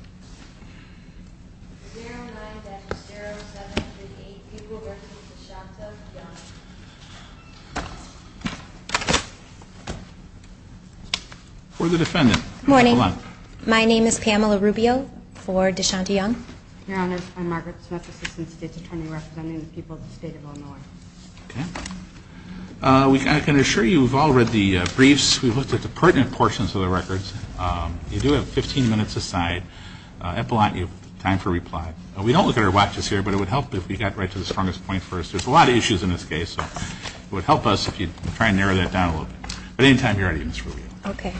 0-9-0-7-3-8, people representing DeShanto, Young. For the defendant. Morning. Hold on. My name is Pamela Rubio for DeShanto, Young. Your Honor, I'm Margaret Smith, Assistant State Attorney representing the people of the State of Illinois. Okay. I can assure you we've all read the briefs. We've looked at the pertinent portions of the records. You do have 15 minutes aside. Epelantyi, time for reply. We don't look at our watches here, but it would help if we got right to the strongest point first. There's a lot of issues in this case, so it would help us if you'd try and narrow that down a little bit. But anytime you're ready, Ms. Rubio. Okay.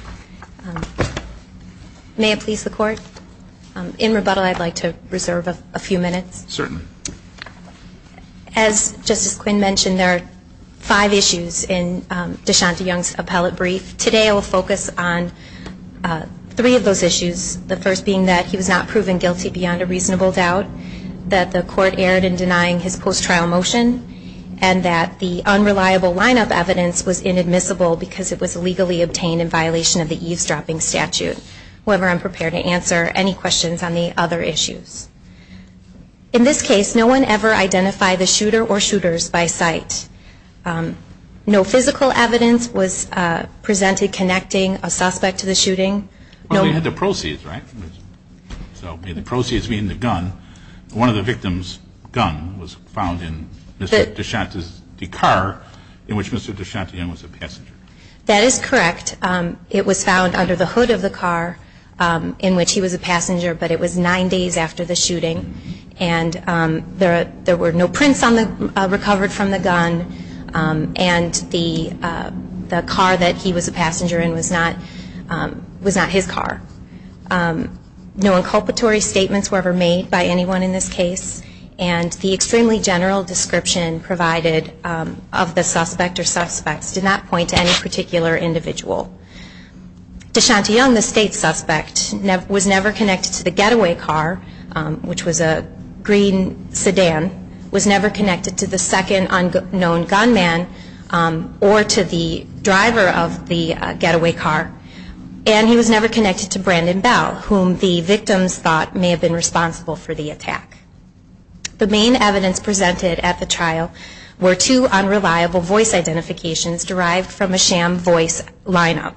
May it please the Court? In rebuttal, I'd like to reserve a few minutes. Certainly. As Justice Quinn mentioned, there are five issues in DeShanto, Young's appellate brief. Today I will focus on three of those issues, the first being that he was not proven guilty beyond a reasonable doubt, that the Court erred in denying his post-trial motion, and that the unreliable lineup evidence was inadmissible because it was illegally obtained in violation of the eavesdropping statute. However, I'm prepared to answer any questions on the other issues. In this case, no one ever identified the shooter or shooters by sight. No physical evidence was presented connecting a suspect to the shooting. Well, they had the proceeds, right? So the proceeds being the gun. One of the victims' gun was found in Mr. DeShanto's car, in which Mr. DeShanto Young was a passenger. That is correct. It was found under the hood of the car in which he was a passenger, but it was nine days after the shooting. And there were no prints recovered from the gun. And the car that he was a passenger in was not his car. No inculpatory statements were ever made by anyone in this case. And the extremely general description provided of the suspect or suspects did not point to any particular individual. DeShanto Young, the state suspect, was never connected to the getaway car, which was a green sedan, was never connected to the second unknown gunman or to the driver of the getaway car, and he was never connected to Brandon Bell, whom the victims thought may have been responsible for the attack. The main evidence presented at the trial were two unreliable voice identifications derived from a sham voice lineup.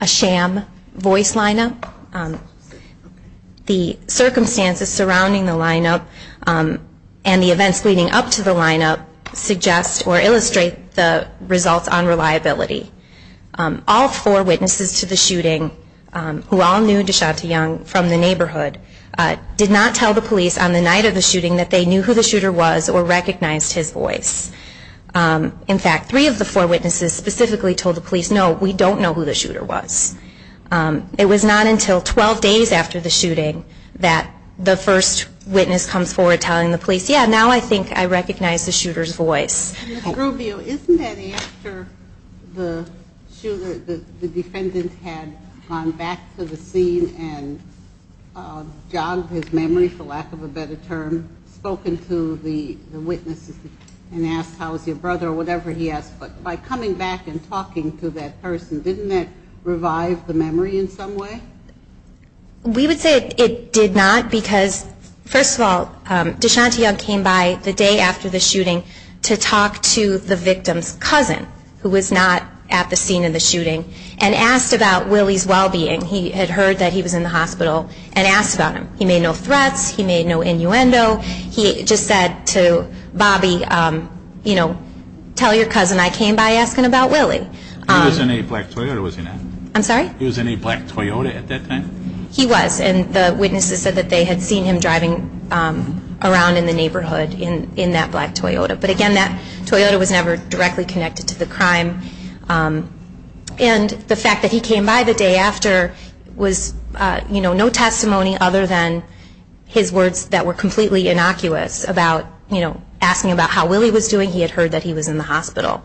A sham voice lineup? The circumstances surrounding the lineup and the events leading up to the lineup suggest or illustrate the results on reliability. All four witnesses to the shooting, who all knew DeShanto Young from the neighborhood, did not tell the police on the night of the shooting that they knew who the shooter was or recognized his voice. In fact, three of the four witnesses specifically told the police, no, we don't know who the shooter was. It was not until 12 days after the shooting that the first witness comes forward telling the police, yeah, now I think I recognize the shooter's voice. Ms. Rubio, isn't it after the shooter, the defendant had gone back to the scene and jogged his memory, for lack of a better term, spoken to the witnesses and asked how is your brother or whatever he asked, but by coming back and talking to that person, didn't that revive the memory in some way? We would say it did not because, first of all, DeShanto Young came by the day after the shooting to talk to the victim's cousin, who was not at the scene of the shooting, and asked about Willie's well-being. He had heard that he was in the hospital and asked about him. He made no threats. He made no innuendo. He just said to Bobby, you know, tell your cousin I came by asking about Willie. He was in a black Toyota, wasn't he? I'm sorry? He was in a black Toyota at that time? He was, and the witnesses said that they had seen him driving around in the neighborhood in that black Toyota. But again, that Toyota was never directly connected to the crime. And the fact that he came by the day after was, you know, no testimony other than his words that were completely innocuous about, you know, asking about how Willie was doing. He had heard that he was in the hospital.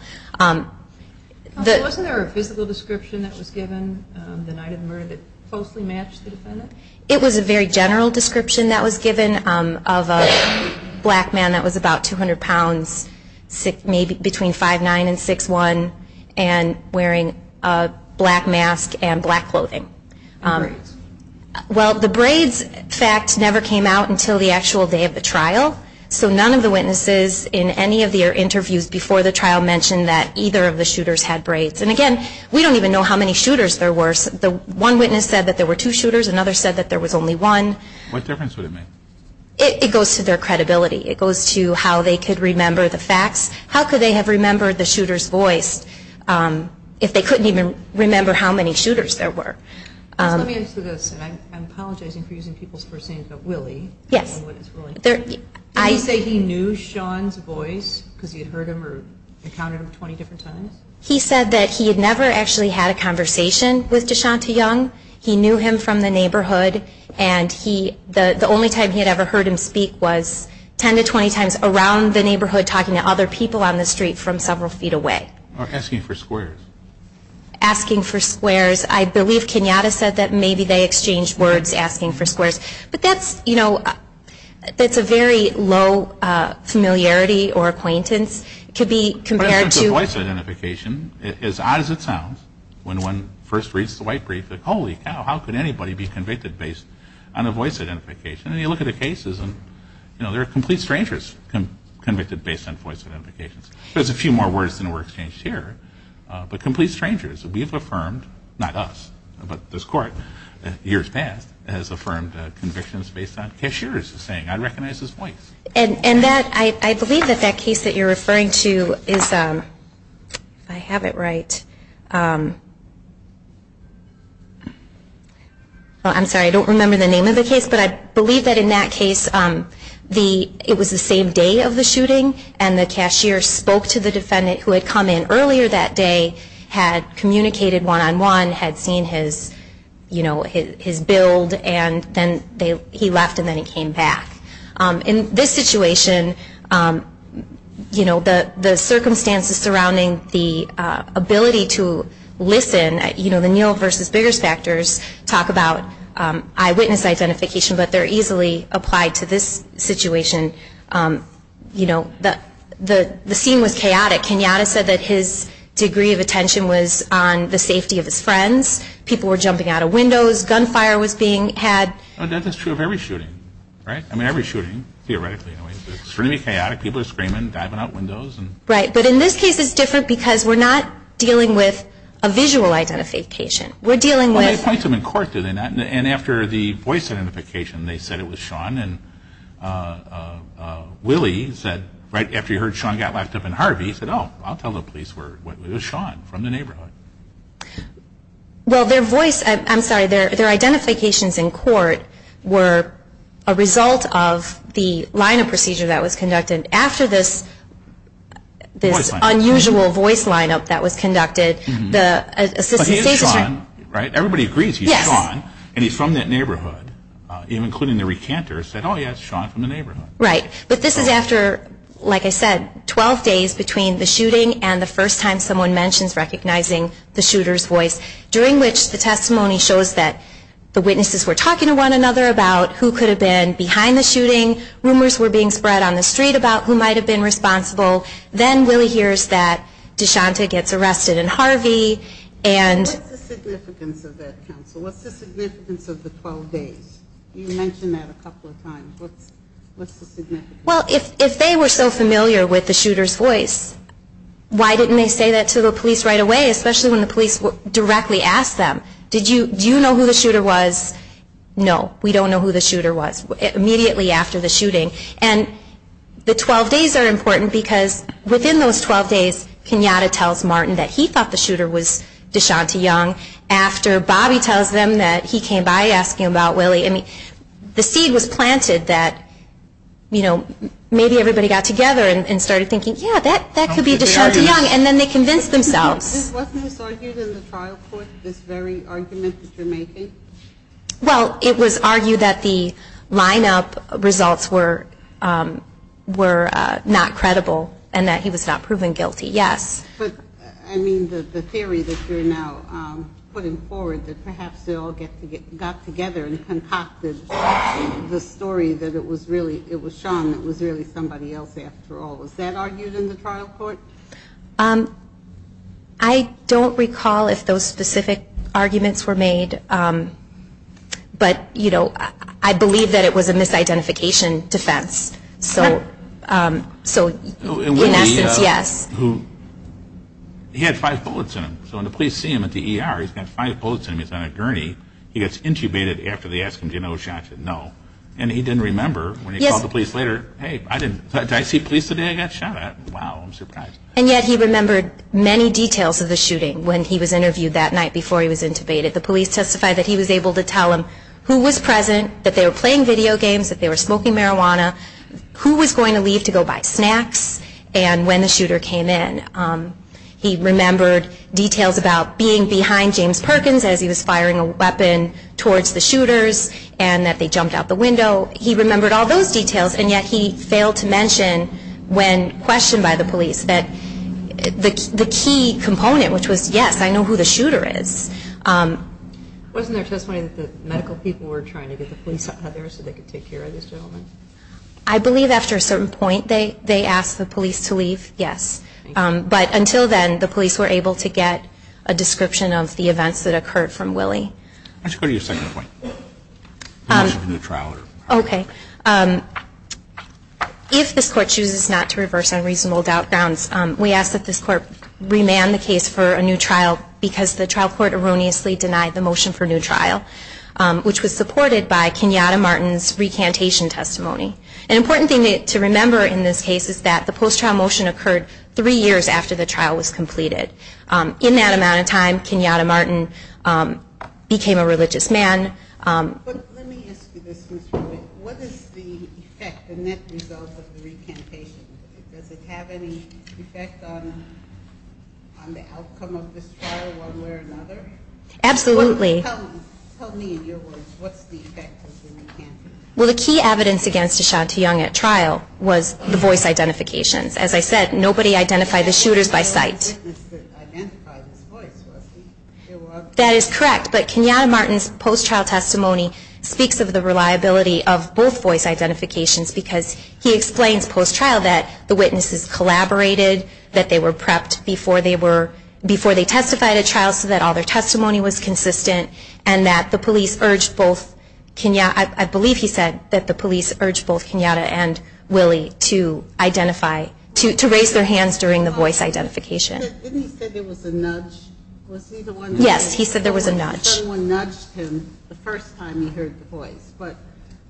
Wasn't there a physical description that was given the night of the murder that falsely matched the defendant? It was a very general description that was given of a black man that was about 200 pounds, maybe between 5'9 and 6'1, and wearing a black mask and black clothing. Braids? Well, the braids fact never came out until the actual day of the trial, so none of the witnesses in any of the interviews before the trial mentioned that either of the shooters had braids. And again, we don't even know how many shooters there were. One witness said that there were two shooters. Another said that there was only one. What difference would it make? It goes to their credibility. It goes to how they could remember the facts. How could they have remembered the shooter's voice if they couldn't even remember how many shooters there were? Let me answer this, and I'm apologizing for using people's first names, but Willie. Yes. Did he say he knew Sean's voice because he had heard him or encountered him 20 different times? He said that he had never actually had a conversation with DeShonta Young. He knew him from the neighborhood, and the only time he had ever heard him speak was 10 to 20 times around the neighborhood talking to other people on the street from several feet away. Or asking for squares. Asking for squares. I believe Kenyatta said that maybe they exchanged words asking for squares. But that's a very low familiarity or acquaintance. In terms of voice identification, as odd as it sounds, when one first reads the white brief, it's like, holy cow, how could anybody be convicted based on a voice identification? And you look at the cases, and there are complete strangers convicted based on voice identifications. There's a few more words than were exchanged here, but complete strangers. We've affirmed, not us, but this court, years past, has affirmed convictions based on cashiers saying, I recognize his voice. I believe that that case that you're referring to is, if I have it right, I'm sorry, I don't remember the name of the case, but I believe that in that case, it was the same day of the shooting, and the cashier spoke to the defendant who had come in earlier that day, had communicated one-on-one, had seen his build, and then he left and then he came back. In this situation, you know, the circumstances surrounding the ability to listen, you know, the Neal versus Biggers factors talk about eyewitness identification, but they're easily applied to this situation. You know, the scene was chaotic. Kenyatta said that his degree of attention was on the safety of his friends. People were jumping out of windows. Gunfire was being had. That's true of every shooting, right? I mean, every shooting, theoretically. It's really chaotic. People are screaming, diving out windows. Right. But in this case, it's different because we're not dealing with a visual identification. We're dealing with... Well, they point to him in court, do they not? And after the voice identification, they said it was Sean. And Willie said, right after he heard Sean got locked up in Harvey, he said, oh, I'll tell the police it was Sean from the neighborhood. Well, their voice, I'm sorry, their identifications in court were a result of the lineup procedure that was conducted. After this unusual voice lineup that was conducted, the assistant station... But he is Sean, right? Everybody agrees he's Sean. Yes. And he's from that neighborhood, including the recanter, said, oh, yeah, it's Sean from the neighborhood. Right. But this is after, like I said, 12 days between the shooting and the first time someone mentions recognizing the shooter's voice, during which the testimony shows that the witnesses were talking to one another about who could have been behind the shooting, rumors were being spread on the street about who might have been responsible. Then Willie hears that DeShanta gets arrested in Harvey and... What's the significance of that, counsel? What's the significance of the 12 days? You mentioned that a couple of times. What's the significance? Well, if they were so familiar with the shooter's voice, why didn't they say that to the police right away, especially when the police directly asked them, do you know who the shooter was? No, we don't know who the shooter was immediately after the shooting. And the 12 days are important because within those 12 days, Kenyatta tells Martin that he thought the shooter was DeShanta Young after Bobby tells them that he came by asking about Willie. The seed was planted that maybe everybody got together and started thinking, yeah, that could be DeShanta Young, and then they convinced themselves. Wasn't this argued in the trial court, this very argument that you're making? Well, it was argued that the lineup results were not credible and that he was not proven guilty, yes. But, I mean, the theory that you're now putting forward that perhaps they all got together and concocted the story that it was Sean that was really somebody else after all. Was that argued in the trial court? I don't recall if those specific arguments were made, but I believe that it was a misidentification defense. So, in essence, yes. He had five bullets in him, so when the police see him at the ER, he's got five bullets in him, he's on a gurney, he gets intubated after they ask him, do you know DeShanta? No. And he didn't remember when he called the police later, hey, did I see police today? I got shot at. Wow, I'm surprised. And yet he remembered many details of the shooting when he was interviewed that night before he was intubated. The police testified that he was able to tell them who was present, that they were playing video games, that they were smoking marijuana, who was going to leave to go buy snacks, and when the shooter came in. He remembered details about being behind James Perkins as he was firing a weapon towards the shooters, and that they jumped out the window. He remembered all those details, and yet he failed to mention when questioned by the police that the key component, which was, yes, I know who the shooter is. Wasn't there testimony that the medical people were trying to get the police out there so they could take care of this gentleman? I believe after a certain point they asked the police to leave, yes. But until then, the police were able to get a description of the events that occurred from Willie. Let's go to your second point. The motion for new trial. Okay. If this Court chooses not to reverse unreasonable doubt grounds, we ask that this Court remand the case for a new trial because the trial court erroneously denied the motion for new trial, which was supported by Kenyatta Martin's recantation testimony. An important thing to remember in this case is that the post-trial motion occurred three years after the trial was completed. In that amount of time, Kenyatta Martin became a religious man. But let me ask you this, Ms. Rubin. What is the effect, the net result of the recantation? Does it have any effect on the outcome of this trial one way or another? Absolutely. Tell me, in your words, what's the effect of the recantation? Well, the key evidence against Ashanti Young at trial was the voice identifications. As I said, nobody identified the shooters by sight. It was the witness that identified his voice, was he? That is correct. But Kenyatta Martin's post-trial testimony speaks of the reliability of both voice identifications because he explains post-trial that the witnesses collaborated, that they were prepped before they testified at trial so that all their testimony was consistent, and that the police urged both Kenyatta and Willie to identify, to raise their hands during the voice identification. Didn't he say there was a nudge? Yes, he said there was a nudge. Someone nudged him the first time he heard the voice. But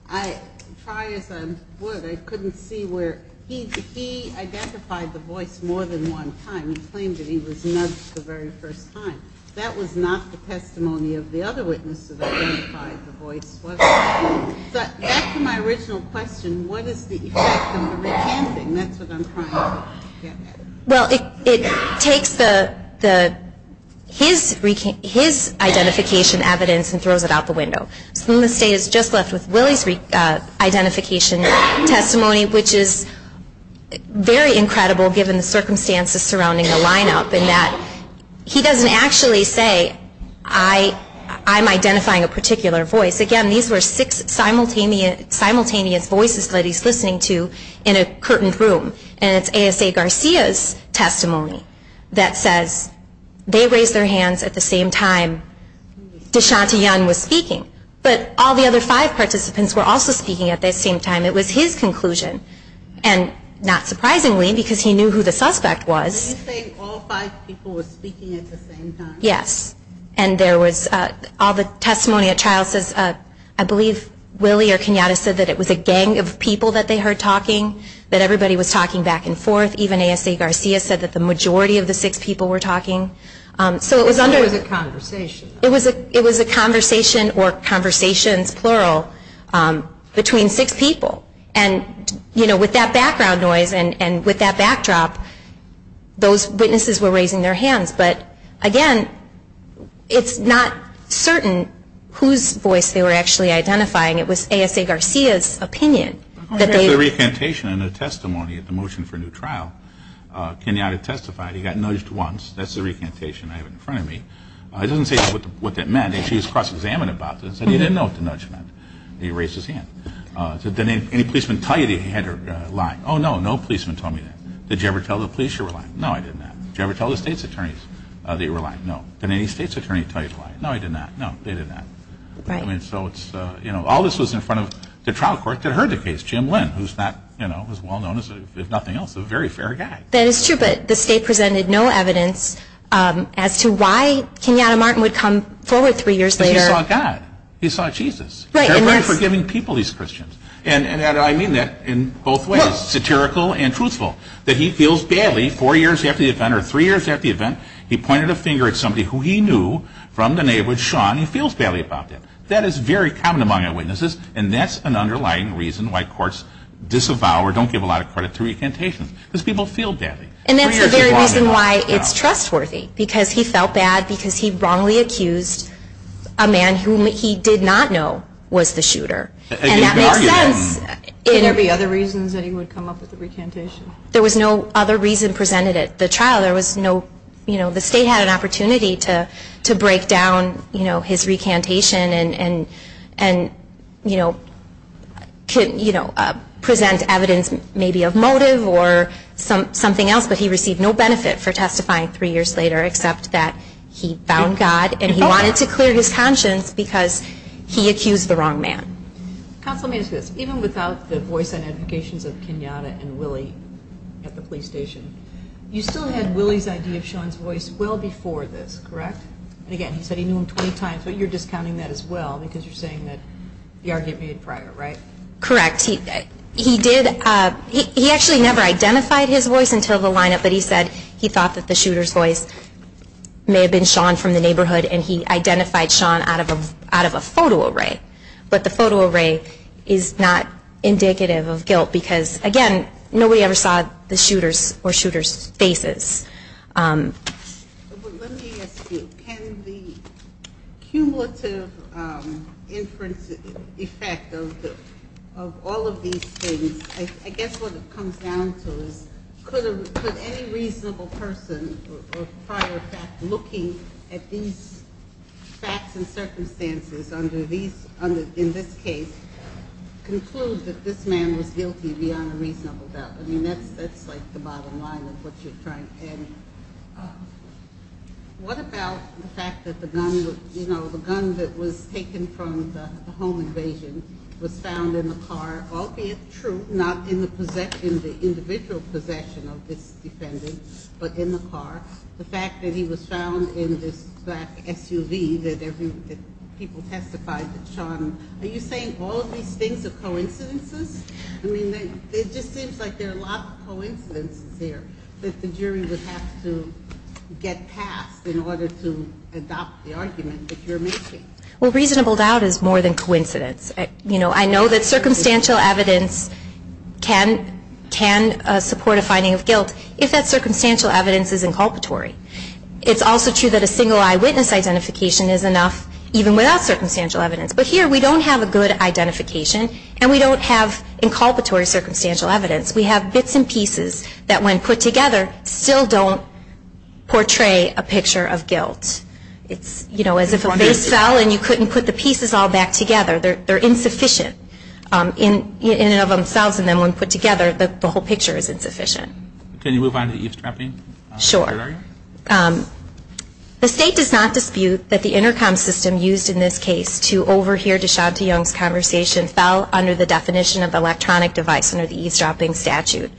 I try as I would, I couldn't see where. He identified the voice more than one time. He claimed that he was nudged the very first time. That was not the testimony of the other witnesses that identified the voice, was it? Back to my original question, what is the effect of the recanting? That's what I'm trying to get at. Well, it takes his identification evidence and throws it out the window. So the state is just left with Willie's identification testimony, which is very incredible given the circumstances surrounding the lineup and that he doesn't actually say, I'm identifying a particular voice. Again, these were six simultaneous voices that he's listening to in a curtained room, and it's ASA Garcia's testimony that says they raised their hands at the same time Deshaunty Young was speaking, but all the other five participants were also speaking at the same time. It was his conclusion, and not surprisingly, because he knew who the suspect was. Are you saying all five people were speaking at the same time? Yes. And all the testimony at trial says, I believe Willie or Kenyatta said that it was a gang of people that they heard talking, that everybody was talking back and forth. Even ASA Garcia said that the majority of the six people were talking. So it was a conversation. It was a conversation, or conversations, plural, between six people. And, you know, with that background noise and with that backdrop, those witnesses were raising their hands. But, again, it's not certain whose voice they were actually identifying. It was ASA Garcia's opinion. There's a recantation in the testimony at the motion for new trial. Kenyatta testified. He got nudged once. That's the recantation I have in front of me. It doesn't say what that meant. He was cross-examined about this, and he didn't know what the nudge meant. He raised his hand. Did any policeman tell you that he had lied? Oh, no, no policeman told me that. Did you ever tell the police you were lying? No, I did not. Did you ever tell the state's attorneys that you were lying? No. Did any state's attorney tell you he was lying? No, he did not. No, they did not. I mean, so it's, you know, all this was in front of the trial court that heard the case, Jim Lynn, who's not, you know, as well-known as if nothing else, a very fair guy. That is true, but the state presented no evidence as to why Kenyatta Martin would come forward three years later. Because he saw God. He saw Jesus. They're very forgiving people, these Christians. And I mean that in both ways, satirical and truthful, that he feels badly four years after the event or three years after the event, he pointed a finger at somebody who he knew from the neighborhood, Sean, and he feels badly about that. That is very common among eyewitnesses, and that's an underlying reason why courts disavow or don't give a lot of credit to recantations, because people feel badly. And that's the very reason why it's trustworthy, because he felt bad because he wrongly accused a man whom he did not know was the shooter. And that makes sense. Could there be other reasons that he would come up with a recantation? There was no other reason presented at the trial. There was no, you know, the state had an opportunity to break down, you know, his recantation and, you know, present evidence maybe of motive or something else, but he received no benefit for testifying three years later except that he found God and he wanted to clear his conscience because he accused the wrong man. Counsel, let me ask you this. Even without the voice and advocations of Kenyatta and Willie at the police station, you still had Willie's idea of Sean's voice well before this, correct? And again, he said he knew him 20 times, but you're discounting that as well because you're saying that the argument made prior, right? Correct. He did, he actually never identified his voice until the lineup, but he said he thought that the shooter's voice may have been Sean from the neighborhood and he identified Sean out of a photo array. But the photo array is not indicative of guilt because, again, nobody ever saw the shooter's faces. Let me ask you, can the cumulative inference effect of all of these things, I guess what it comes down to is could any reasonable person, or prior fact, looking at these facts and circumstances under these, in this case, conclude that this man was guilty beyond a reasonable doubt? I mean, that's like the bottom line of what you're trying. And what about the fact that the gun, you know, the gun that was taken from the home invasion was found in the car, albeit true, not in the individual possession of this defendant, but in the car. The fact that he was found in this black SUV that people testified that Sean, are you saying all of these things are coincidences? I mean, it just seems like there are a lot of coincidences here that the jury would have to get past in order to adopt the argument that you're making. Well, reasonable doubt is more than coincidence. You know, I know that circumstantial evidence can support a finding of guilt if that circumstantial evidence is inculpatory. It's also true that a single eyewitness identification is enough even without circumstantial evidence. But here we don't have a good identification and we don't have inculpatory circumstantial evidence. We have bits and pieces that when put together still don't portray a picture of guilt. It's, you know, as if a vase fell and you couldn't put the pieces all back together. They're insufficient in and of themselves. And then when put together, the whole picture is insufficient. Can you move on to eavesdropping? Sure. The state does not dispute that the intercom system used in this case to overhear DeShanty Young's conversation fell under the definition of electronic device under the eavesdropping statute.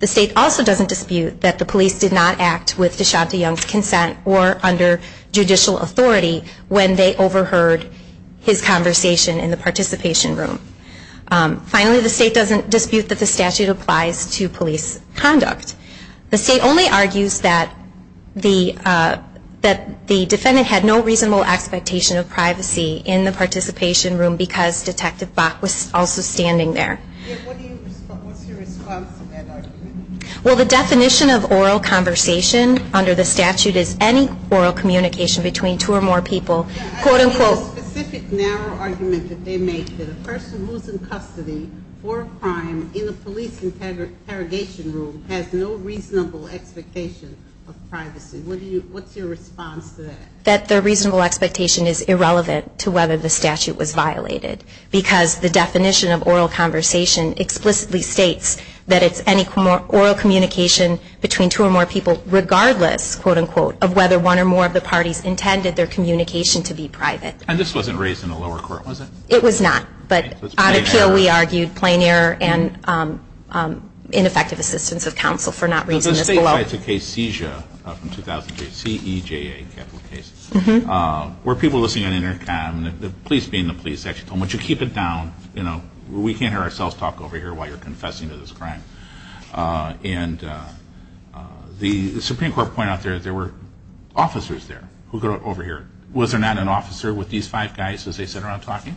The state also doesn't dispute that the police did not act with DeShanty Young's consent or under judicial authority when they overheard his conversation in the participation room. Finally, the state doesn't dispute that the statute applies to police conduct. The state only argues that the defendant had no reasonable expectation of privacy in the participation room because Detective Bach was also standing there. What's your response to that argument? Well, the definition of oral conversation under the statute is any oral communication between two or more people, quote, unquote. I see the specific narrow argument that they make that a person who's in custody for a crime in a police interrogation room has no reasonable expectation of privacy. What's your response to that? That the reasonable expectation is irrelevant to whether the statute was violated because the definition of oral conversation explicitly states that it's any oral communication between two or more people regardless, quote, unquote, of whether one or more of the parties intended their communication to be private. And this wasn't raised in the lower court, was it? It was not, but on appeal we argued plain error and ineffective assistance of counsel for not raising this below. This is a case, CESIA, from 2003, C-E-J-A, capital case, where people listening on intercom, the police being the police actually told them, why don't you keep it down, you know, we can't hear ourselves talk over here while you're confessing to this crime. And the Supreme Court pointed out there were officers there who got over here. Was there not an officer with these five guys as they sat around talking?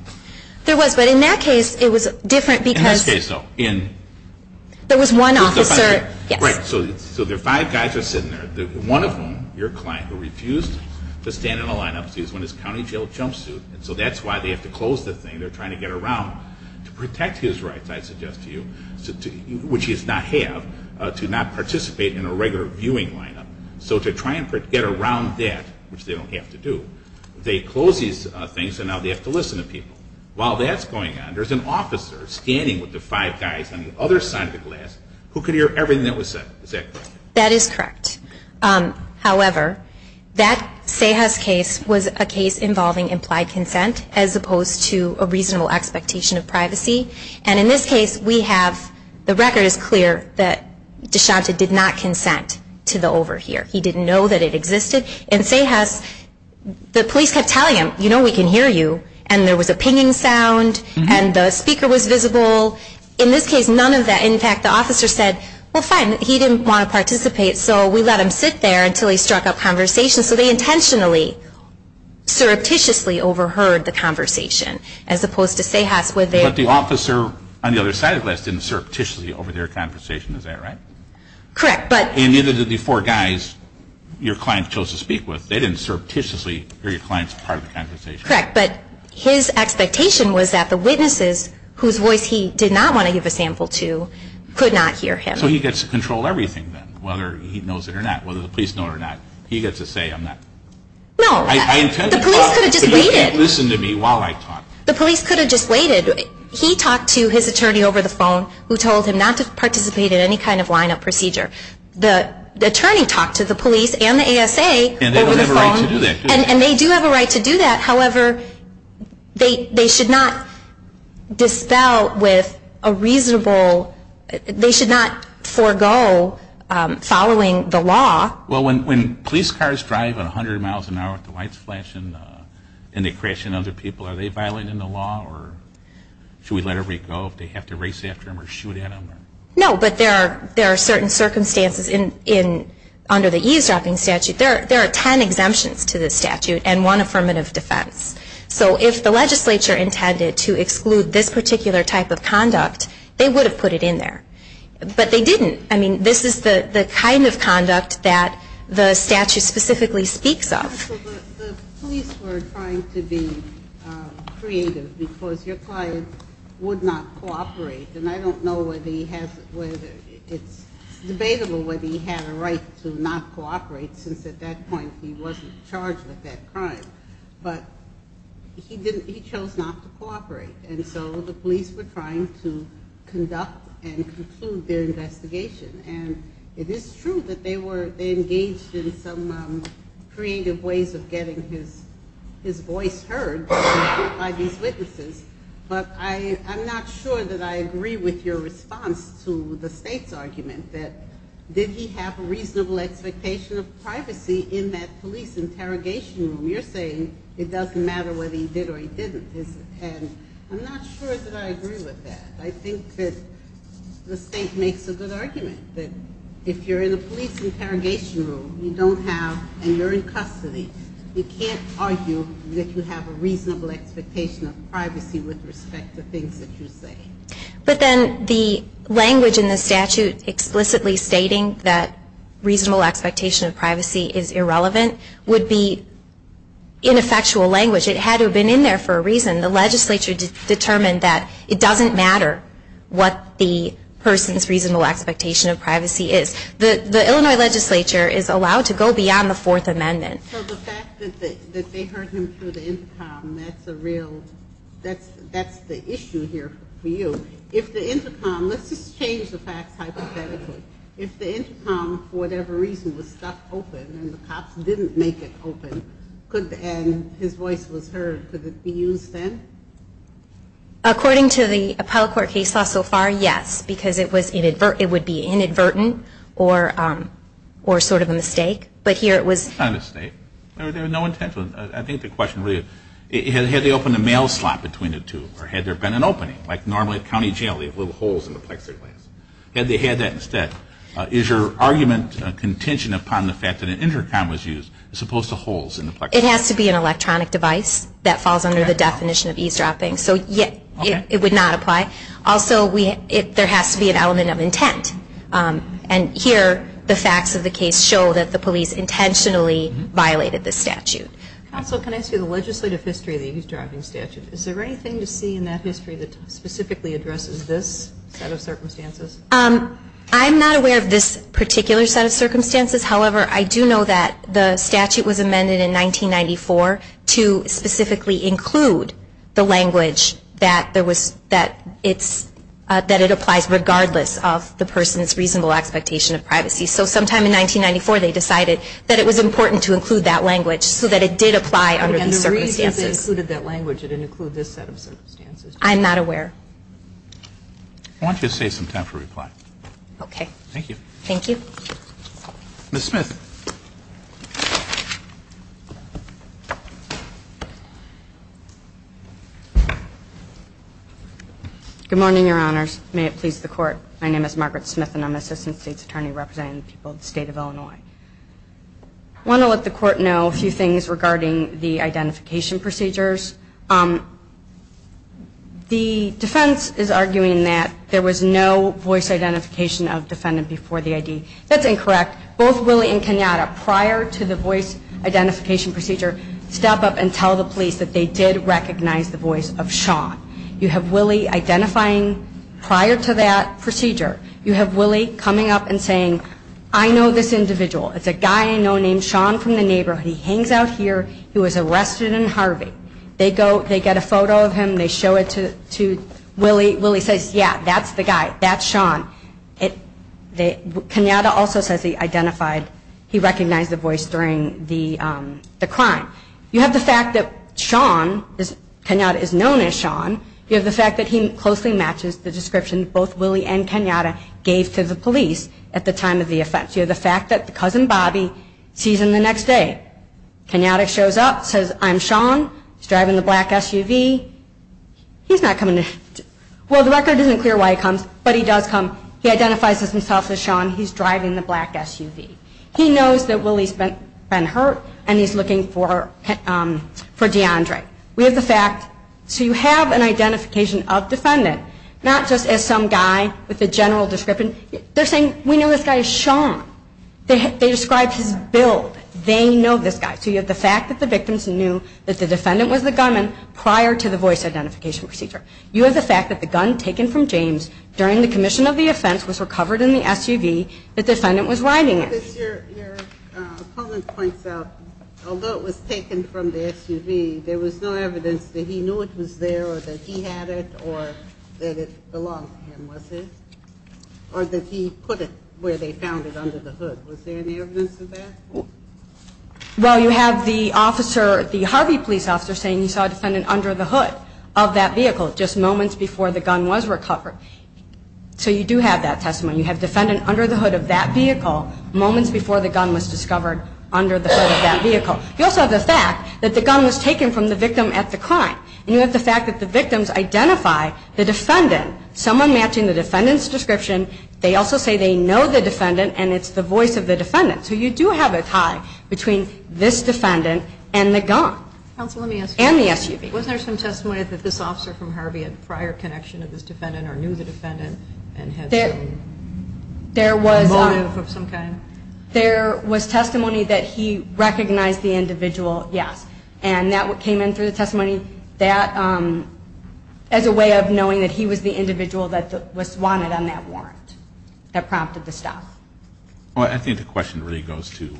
There was, but in that case it was different because there was one officer. Right, so the five guys were sitting there, one of whom, your client, who refused to stand in a lineup to use one of his county jail jumpsuits. So that's why they have to close the thing. They're trying to get around to protect his rights, I suggest to you, which he does not have, to not participate in a regular viewing lineup. So to try and get around that, which they don't have to do, they close these things and now they have to listen to people. While that's going on, there's an officer standing with the five guys on the other side of the glass who could hear everything that was said. Is that correct? That is correct. However, that Sahas case was a case involving implied consent as opposed to a reasonable expectation of privacy. And in this case we have the record is clear that DeShanta did not consent to the over here. He didn't know that it existed. In Sahas, the police kept telling him, you know we can hear you, and there was a pinging sound and the speaker was visible. In this case, none of that. In fact, the officer said, well fine, he didn't want to participate, so we let him sit there until he struck up conversation. So they intentionally surreptitiously overheard the conversation as opposed to Sahas where they But the officer on the other side of the glass didn't surreptitiously over their conversation. Is that right? Correct. And neither did the four guys your client chose to speak with. They didn't surreptitiously hear your client's part of the conversation. Correct. But his expectation was that the witnesses, whose voice he did not want to give a sample to, could not hear him. So he gets to control everything then, whether he knows it or not, whether the police know it or not. He gets to say, I'm not. No. The police could have just waited. You can't listen to me while I talk. The police could have just waited. He talked to his attorney over the phone who told him not to participate in any kind of lineup procedure. The attorney talked to the police and the ASA over the phone. And they don't have a right to do that. However, they should not dispel with a reasonable, they should not forego following the law. Well, when police cars drive at 100 miles an hour with the lights flashing and they crash into other people, are they violating the law? Or should we let them go if they have to race after them or shoot at them? No, but there are certain circumstances under the eavesdropping statute. There are ten exemptions to the statute and one affirmative defense. So if the legislature intended to exclude this particular type of conduct, they would have put it in there. But they didn't. I mean, this is the kind of conduct that the statute specifically speaks of. The police were trying to be creative because your client would not cooperate. And I don't know whether he has, whether it's debatable whether he had a right to not cooperate since at that point he wasn't charged with that crime. But he chose not to cooperate. And so the police were trying to conduct and conclude their investigation. And it is true that they engaged in some creative ways of getting his voice heard by these witnesses. But I'm not sure that I agree with your response to the state's argument that did he have a reasonable expectation of privacy in that police interrogation room. You're saying it doesn't matter whether he did or he didn't. And I'm not sure that I agree with that. I think that the state makes a good argument that if you're in a police interrogation room, you don't have, and you're in custody, you can't argue that you have a reasonable expectation of privacy with respect to things that you say. But then the language in the statute explicitly stating that reasonable expectation of privacy is irrelevant would be ineffectual language. It had to have been in there for a reason. The legislature determined that it doesn't matter what the person's reasonable expectation of privacy is. The Illinois legislature is allowed to go beyond the Fourth Amendment. So the fact that they heard him through the intercom, that's a real, that's the issue here for you. If the intercom, let's just change the facts hypothetically. If the intercom for whatever reason was stuck open and the cops didn't make it open, and his voice was heard, could it be used then? According to the appellate court case law so far, yes. Because it would be inadvertent or sort of a mistake. But here it was. Not a mistake. There was no intention. I think the question really, had they opened a mail slot between the two, or had there been an opening like normally at county jail, you have little holes in the plexiglass. Had they had that instead, is your argument a contention upon the fact that an intercom was used as opposed to holes in the plexiglass? It has to be an electronic device that falls under the definition of eavesdropping. So it would not apply. Also, there has to be an element of intent. And here the facts of the case show that the police intentionally violated the statute. Counsel, can I ask you the legislative history of the eavesdropping statute? Is there anything to see in that history that specifically addresses this set of circumstances? I'm not aware of this particular set of circumstances. However, I do know that the statute was amended in 1994 to specifically include the language that it applies regardless of the person's reasonable expectation of privacy. So sometime in 1994 they decided that it was important to include that language so that it did apply under these circumstances. And the reason they included that language, it didn't include this set of circumstances. I'm not aware. I want you to save some time for reply. Okay. Thank you. Thank you. Ms. Smith. Good morning, Your Honors. May it please the Court. My name is Margaret Smith, and I'm Assistant State's Attorney representing the people of the State of Illinois. I want to let the Court know a few things regarding the identification procedures. The defense is arguing that there was no voice identification of defendant before the ID. Both Willie and Kenneth were identified before the ID. Both Willie and Kenneth, prior to the voice identification procedure, step up and tell the police that they did recognize the voice of Sean. You have Willie identifying prior to that procedure. You have Willie coming up and saying, I know this individual. It's a guy I know named Sean from the neighborhood. He hangs out here. He was arrested in Harvey. They get a photo of him. They show it to Willie. Willie says, yeah, that's the guy. That's Sean. Kenneth also says he recognized the voice during the crime. You have the fact that Sean, Kenneth, is known as Sean. You have the fact that he closely matches the description both Willie and Kenneth gave to the police at the time of the offense. You have the fact that the cousin, Bobby, sees him the next day. Kenneth shows up, says, I'm Sean. He's driving the black SUV. He's not coming. Well, the record isn't clear why he comes, but he does come. He identifies himself as Sean. He's driving the black SUV. He knows that Willie's been hurt, and he's looking for DeAndre. We have the fact. So you have an identification of defendant, not just as some guy with a general description. They're saying, we know this guy is Sean. They described his build. They know this guy. So you have the fact that the victims knew that the defendant was the gunman prior to the voice identification procedure. You have the fact that the gun taken from James during the commission of the offense was recovered in the SUV the defendant was riding in. Your comment points out, although it was taken from the SUV, there was no evidence that he knew it was there or that he had it or that it belonged to him, was it? Or that he put it where they found it under the hood. Was there any evidence of that? Well, you have the officer, the Harvey police officer, saying he saw a defendant under the hood of that vehicle just moments before the gun was recovered. So you do have that testimony. You have defendant under the hood of that vehicle moments before the gun was discovered under the hood of that vehicle. You also have the fact that the gun was taken from the victim at the crime. And you have the fact that the victims identify the defendant, someone matching the defendant's description. They also say they know the defendant, and it's the voice of the defendant. So you do have a tie between this defendant and the gun. Counsel, let me ask you. And the SUV. Wasn't there some testimony that this officer from Harvey had prior connection to this defendant or knew the defendant and had some motive of some kind? There was testimony that he recognized the individual, yes. And that came in through the testimony as a way of knowing that he was the individual that was wanted on that warrant that prompted the stop. Well, I think the question really goes to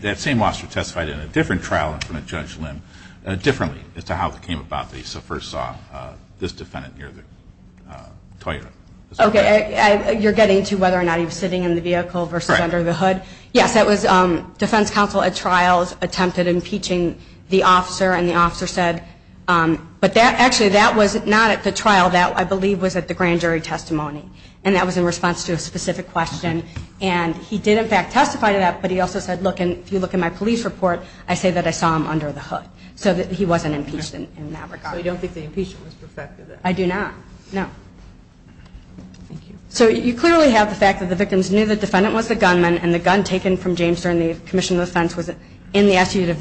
that same officer testified in a different trial and from a judge limb, differently as to how it came about that he first saw this defendant near the Toyota. Okay. You're getting to whether or not he was sitting in the vehicle versus under the hood. Yes, that was defense counsel at trials attempted impeaching the officer, and the officer said, but actually that was not at the trial. That, I believe, was at the grand jury testimony. And that was in response to a specific question. And he did, in fact, testify to that. But he also said, look, if you look at my police report, I say that I saw him under the hood. So he wasn't impeached in that regard. So you don't think the impeachment was perfected? I do not. No. Thank you. So you clearly have the fact that the victims knew the defendant was the gunman and the gun taken from James during the commission of defense was in the SUV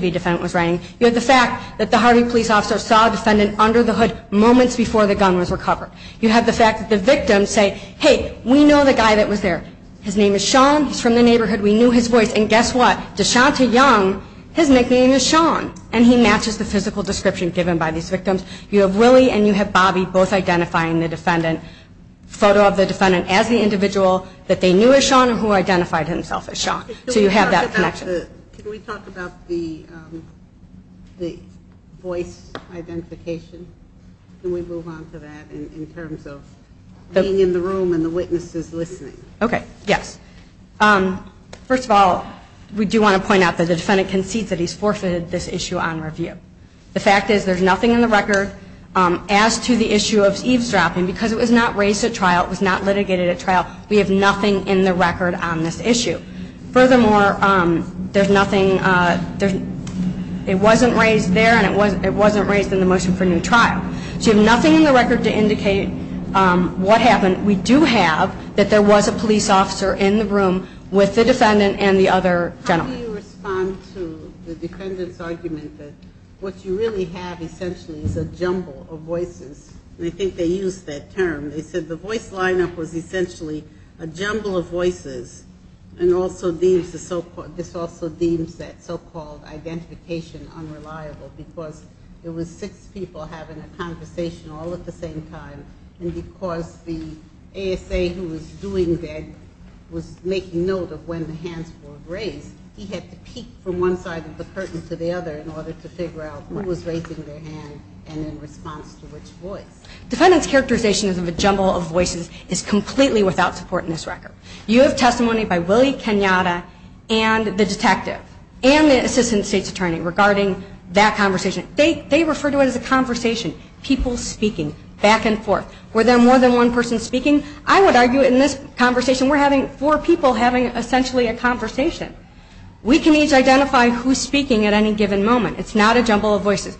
the defendant was riding. You have the fact that the Harvey police officer saw the defendant under the hood moments before the gun was recovered. You have the fact that the victims say, hey, we know the guy that was there. His name is Sean. He's from the neighborhood. We knew his voice. And guess what? DeShonta Young, his nickname is Sean. And he matches the physical description given by these victims. You have Willie and you have Bobby both identifying the defendant, photo of the defendant as the individual that they knew as Sean and who identified himself as Sean. So you have that connection. Can we talk about the voice identification? Can we move on to that in terms of being in the room and the witnesses listening? Okay. Yes. First of all, we do want to point out that the defendant concedes that he's forfeited this issue on review. The fact is there's nothing in the record as to the issue of eavesdropping because it was not raised at trial. It was not litigated at trial. We have nothing in the record on this issue. Furthermore, there's nothing, it wasn't raised there and it wasn't raised in the motion for new trial. So you have nothing in the record to indicate what happened. We do have that there was a police officer in the room with the defendant and the other gentleman. How do you respond to the defendant's argument that what you really have essentially is a jumble of voices? I think they used that term. They said the voice lineup was essentially a jumble of voices and also this also deems that so-called identification unreliable because it was six people having a conversation all at the same time and because the ASA who was doing that was making note of when the hands were raised. He had to peek from one side of the curtain to the other in order to figure out who was raising their hand and in response to which voice. Defendant's characterization of a jumble of voices is completely without support in this record. You have testimony by Willie Kenyatta and the detective and the assistant state's attorney regarding that conversation. They refer to it as a conversation, people speaking back and forth. Were there more than one person speaking? I would argue in this conversation we're having four people having essentially a conversation. We can each identify who's speaking at any given moment. It's not a jumble of voices.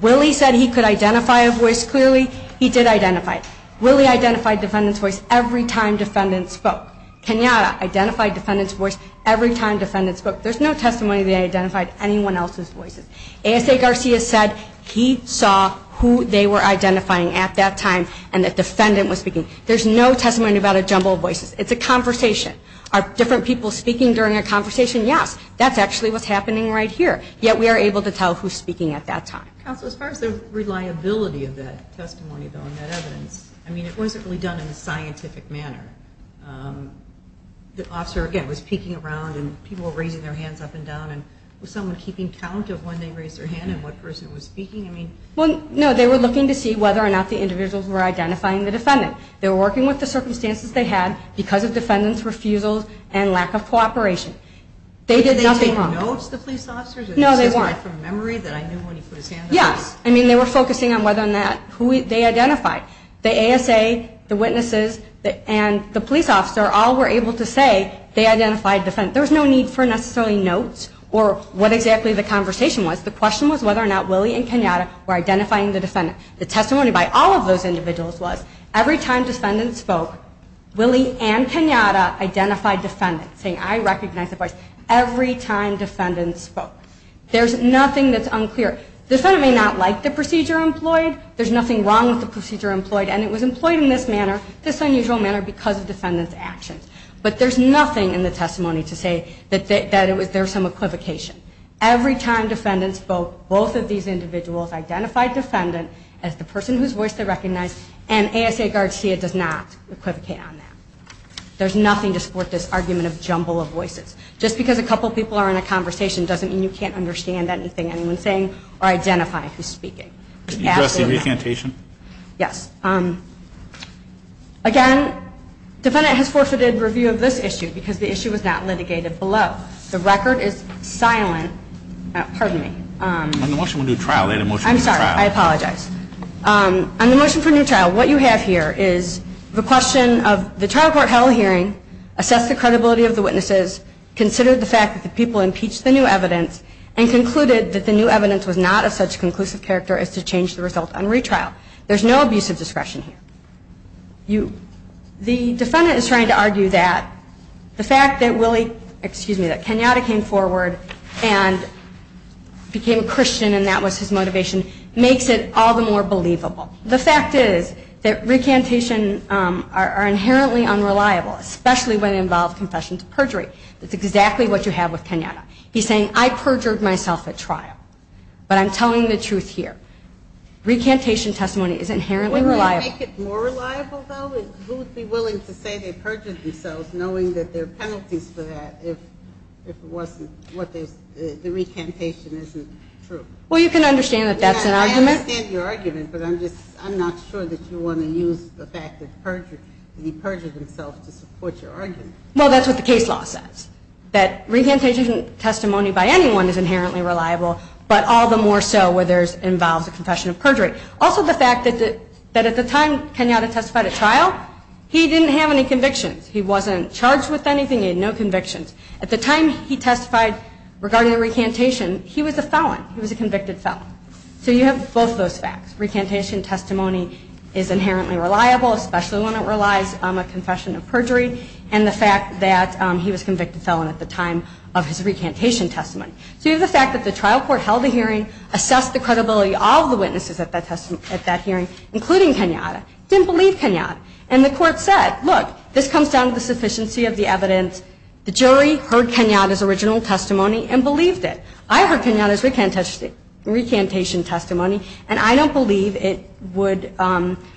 Willie said he could identify a voice clearly. He did identify it. Willie identified defendant's voice every time defendant spoke. Kenyatta identified defendant's voice every time defendant spoke. There's no testimony they identified anyone else's voices. ASA Garcia said he saw who they were identifying at that time and that defendant was speaking. There's no testimony about a jumble of voices. It's a conversation. Are different people speaking during a conversation? Yes. That's actually what's happening right here. Yet we are able to tell who's speaking at that time. Counsel, as far as the reliability of that testimony, though, and that evidence, I mean it wasn't really done in a scientific manner. The officer, again, was peeking around and people were raising their hands up and down. Was someone keeping count of when they raised their hand and what person was speaking? No, they were looking to see whether or not the individuals were identifying the defendant. They were working with the circumstances they had because of defendant's refusal and lack of cooperation. They did nothing wrong. Did they take notes, the police officers? No, they weren't. It says right from memory that I knew when he put his hand up? Yes. I mean they were focusing on whether or not who they identified. The ASA, the witnesses, and the police officer all were able to say they identified the defendant. There was no need for necessarily notes or what exactly the conversation was. The question was whether or not Willie and Kenyatta were identifying the defendant. The testimony by all of those individuals was every time defendant spoke, Willie and Kenyatta identified defendant saying I recognize the voice every time defendant spoke. There's nothing that's unclear. The defendant may not like the procedure employed. There's nothing wrong with the procedure employed and it was employed in this manner, this unusual manner because of defendant's actions. But there's nothing in the testimony to say that there was some equivocation. Every time defendant spoke, both of these individuals identified defendant as the person whose voice they recognized and ASA Garcia does not equivocate on that. There's nothing to support this argument of jumble of voices. Just because a couple people are in a conversation doesn't mean you can't understand anything anyone's saying or identify who's speaking. Can you address the recantation? Yes. Again, defendant has forfeited review of this issue because the issue was not litigated below. The record is silent. Pardon me. On the motion for new trial. I'm sorry. I apologize. On the motion for new trial, what you have here is the question of the trial court held hearing, assessed the credibility of the witnesses, considered the fact that the people impeached the new evidence and concluded that the new evidence was not of such conclusive character as to change the result on retrial. There's no abusive discretion here. The defendant is trying to argue that the fact that Kenyatta came forward and became a Christian and that was his motivation makes it all the more believable. The fact is that recantation are inherently unreliable, especially when it involves confession to perjury. That's exactly what you have with Kenyatta. He's saying, I perjured myself at trial, but I'm telling the truth here. Recantation testimony is inherently reliable. Would it make it more reliable, though? Who would be willing to say they perjured themselves knowing that there are penalties for that if it wasn't the recantation isn't true? Well, you can understand that that's an argument. I understand your argument, but I'm not sure that you want to use the fact that he perjured himself to support your argument. Well, that's what the case law says, that recantation testimony by anyone is inherently reliable, but all the more so where it involves a confession of perjury. Also, the fact that at the time Kenyatta testified at trial, he didn't have any convictions. He wasn't charged with anything. He had no convictions. At the time he testified regarding the recantation, he was a felon. He was a convicted felon. So you have both those facts. Recantation testimony is inherently reliable, especially when it relies on a confession of perjury, and the fact that he was a convicted felon at the time of his recantation testimony. So you have the fact that the trial court held a hearing, assessed the credibility of all the witnesses at that hearing, including Kenyatta. Didn't believe Kenyatta. And the court said, look, this comes down to the sufficiency of the evidence. The jury heard Kenyatta's original testimony and believed it. I heard Kenyatta's recantation testimony, and I don't believe it would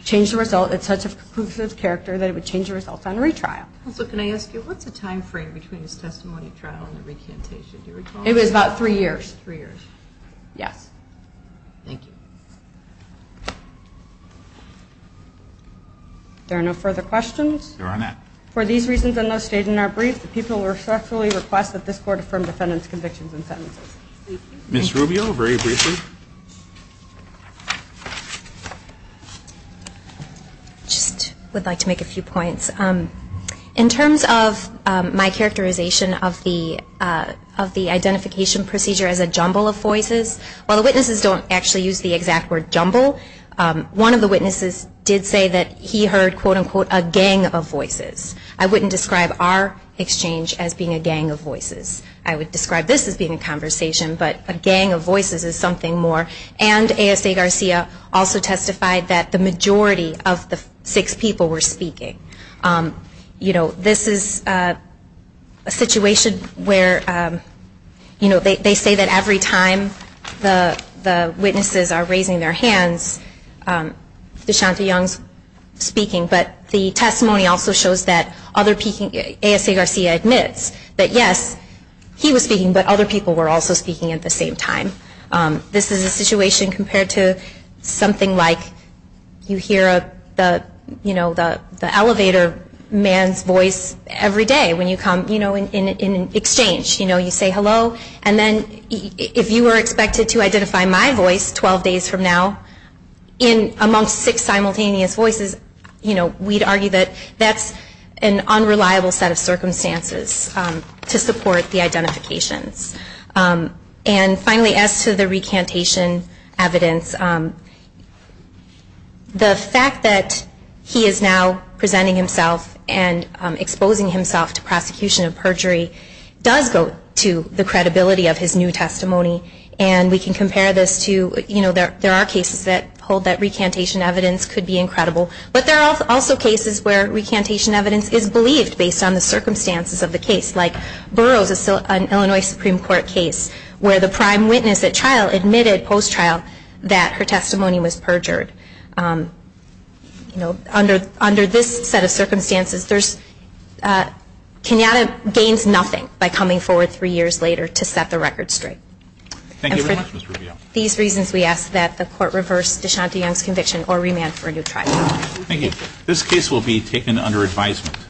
change the result in such a conclusive character that it would change the result on retrial. Also, can I ask you, what's the time frame between his testimony at trial and the recantation? Do you recall? It was about three years. Three years. Yes. Thank you. There are no further questions? There are none. For these reasons, and those stated in our brief, the people respectfully request that this court affirm defendant's convictions and sentences. Ms. Rubio, very briefly. I just would like to make a few points. In terms of my characterization of the identification procedure as a jumble of voices, while the witnesses don't actually use the exact word jumble, one of the witnesses did say that he heard, quote, unquote, a gang of voices. I wouldn't describe our exchange as being a gang of voices. I would describe this as being a conversation, but a gang of voices is something more. And ASA Garcia also testified that the majority of the six people were speaking. You know, this is a situation where, you know, they say that every time the witnesses are raising their hands, DeShonta Young's speaking, but the testimony also shows that other people, ASA Garcia admits that, yes, he was speaking, but other people were also speaking at the same time. This is a situation compared to something like you hear, you know, the elevator man's voice every day when you come, you know, in exchange, you know, you say hello, and then if you were expected to identify my voice 12 days from now, in amongst six simultaneous voices, you know, we'd argue that that's an unreliable set of circumstances to support the identifications. And finally, as to the recantation evidence, the fact that he is now presenting himself and exposing himself to prosecution of perjury does go to the credibility of his new testimony, and we can compare this to, you know, there are cases that hold that recantation evidence could be incredible, but there are also cases where recantation evidence is believed based on the Supreme Court case, where the prime witness at trial admitted post-trial that her testimony was perjured. You know, under this set of circumstances, Kenyatta gains nothing by coming forward three years later to set the record straight. And for these reasons, we ask that the court reverse DeShonta Young's conviction or remand for a new trial. Thank you. This case will be taken under advisement.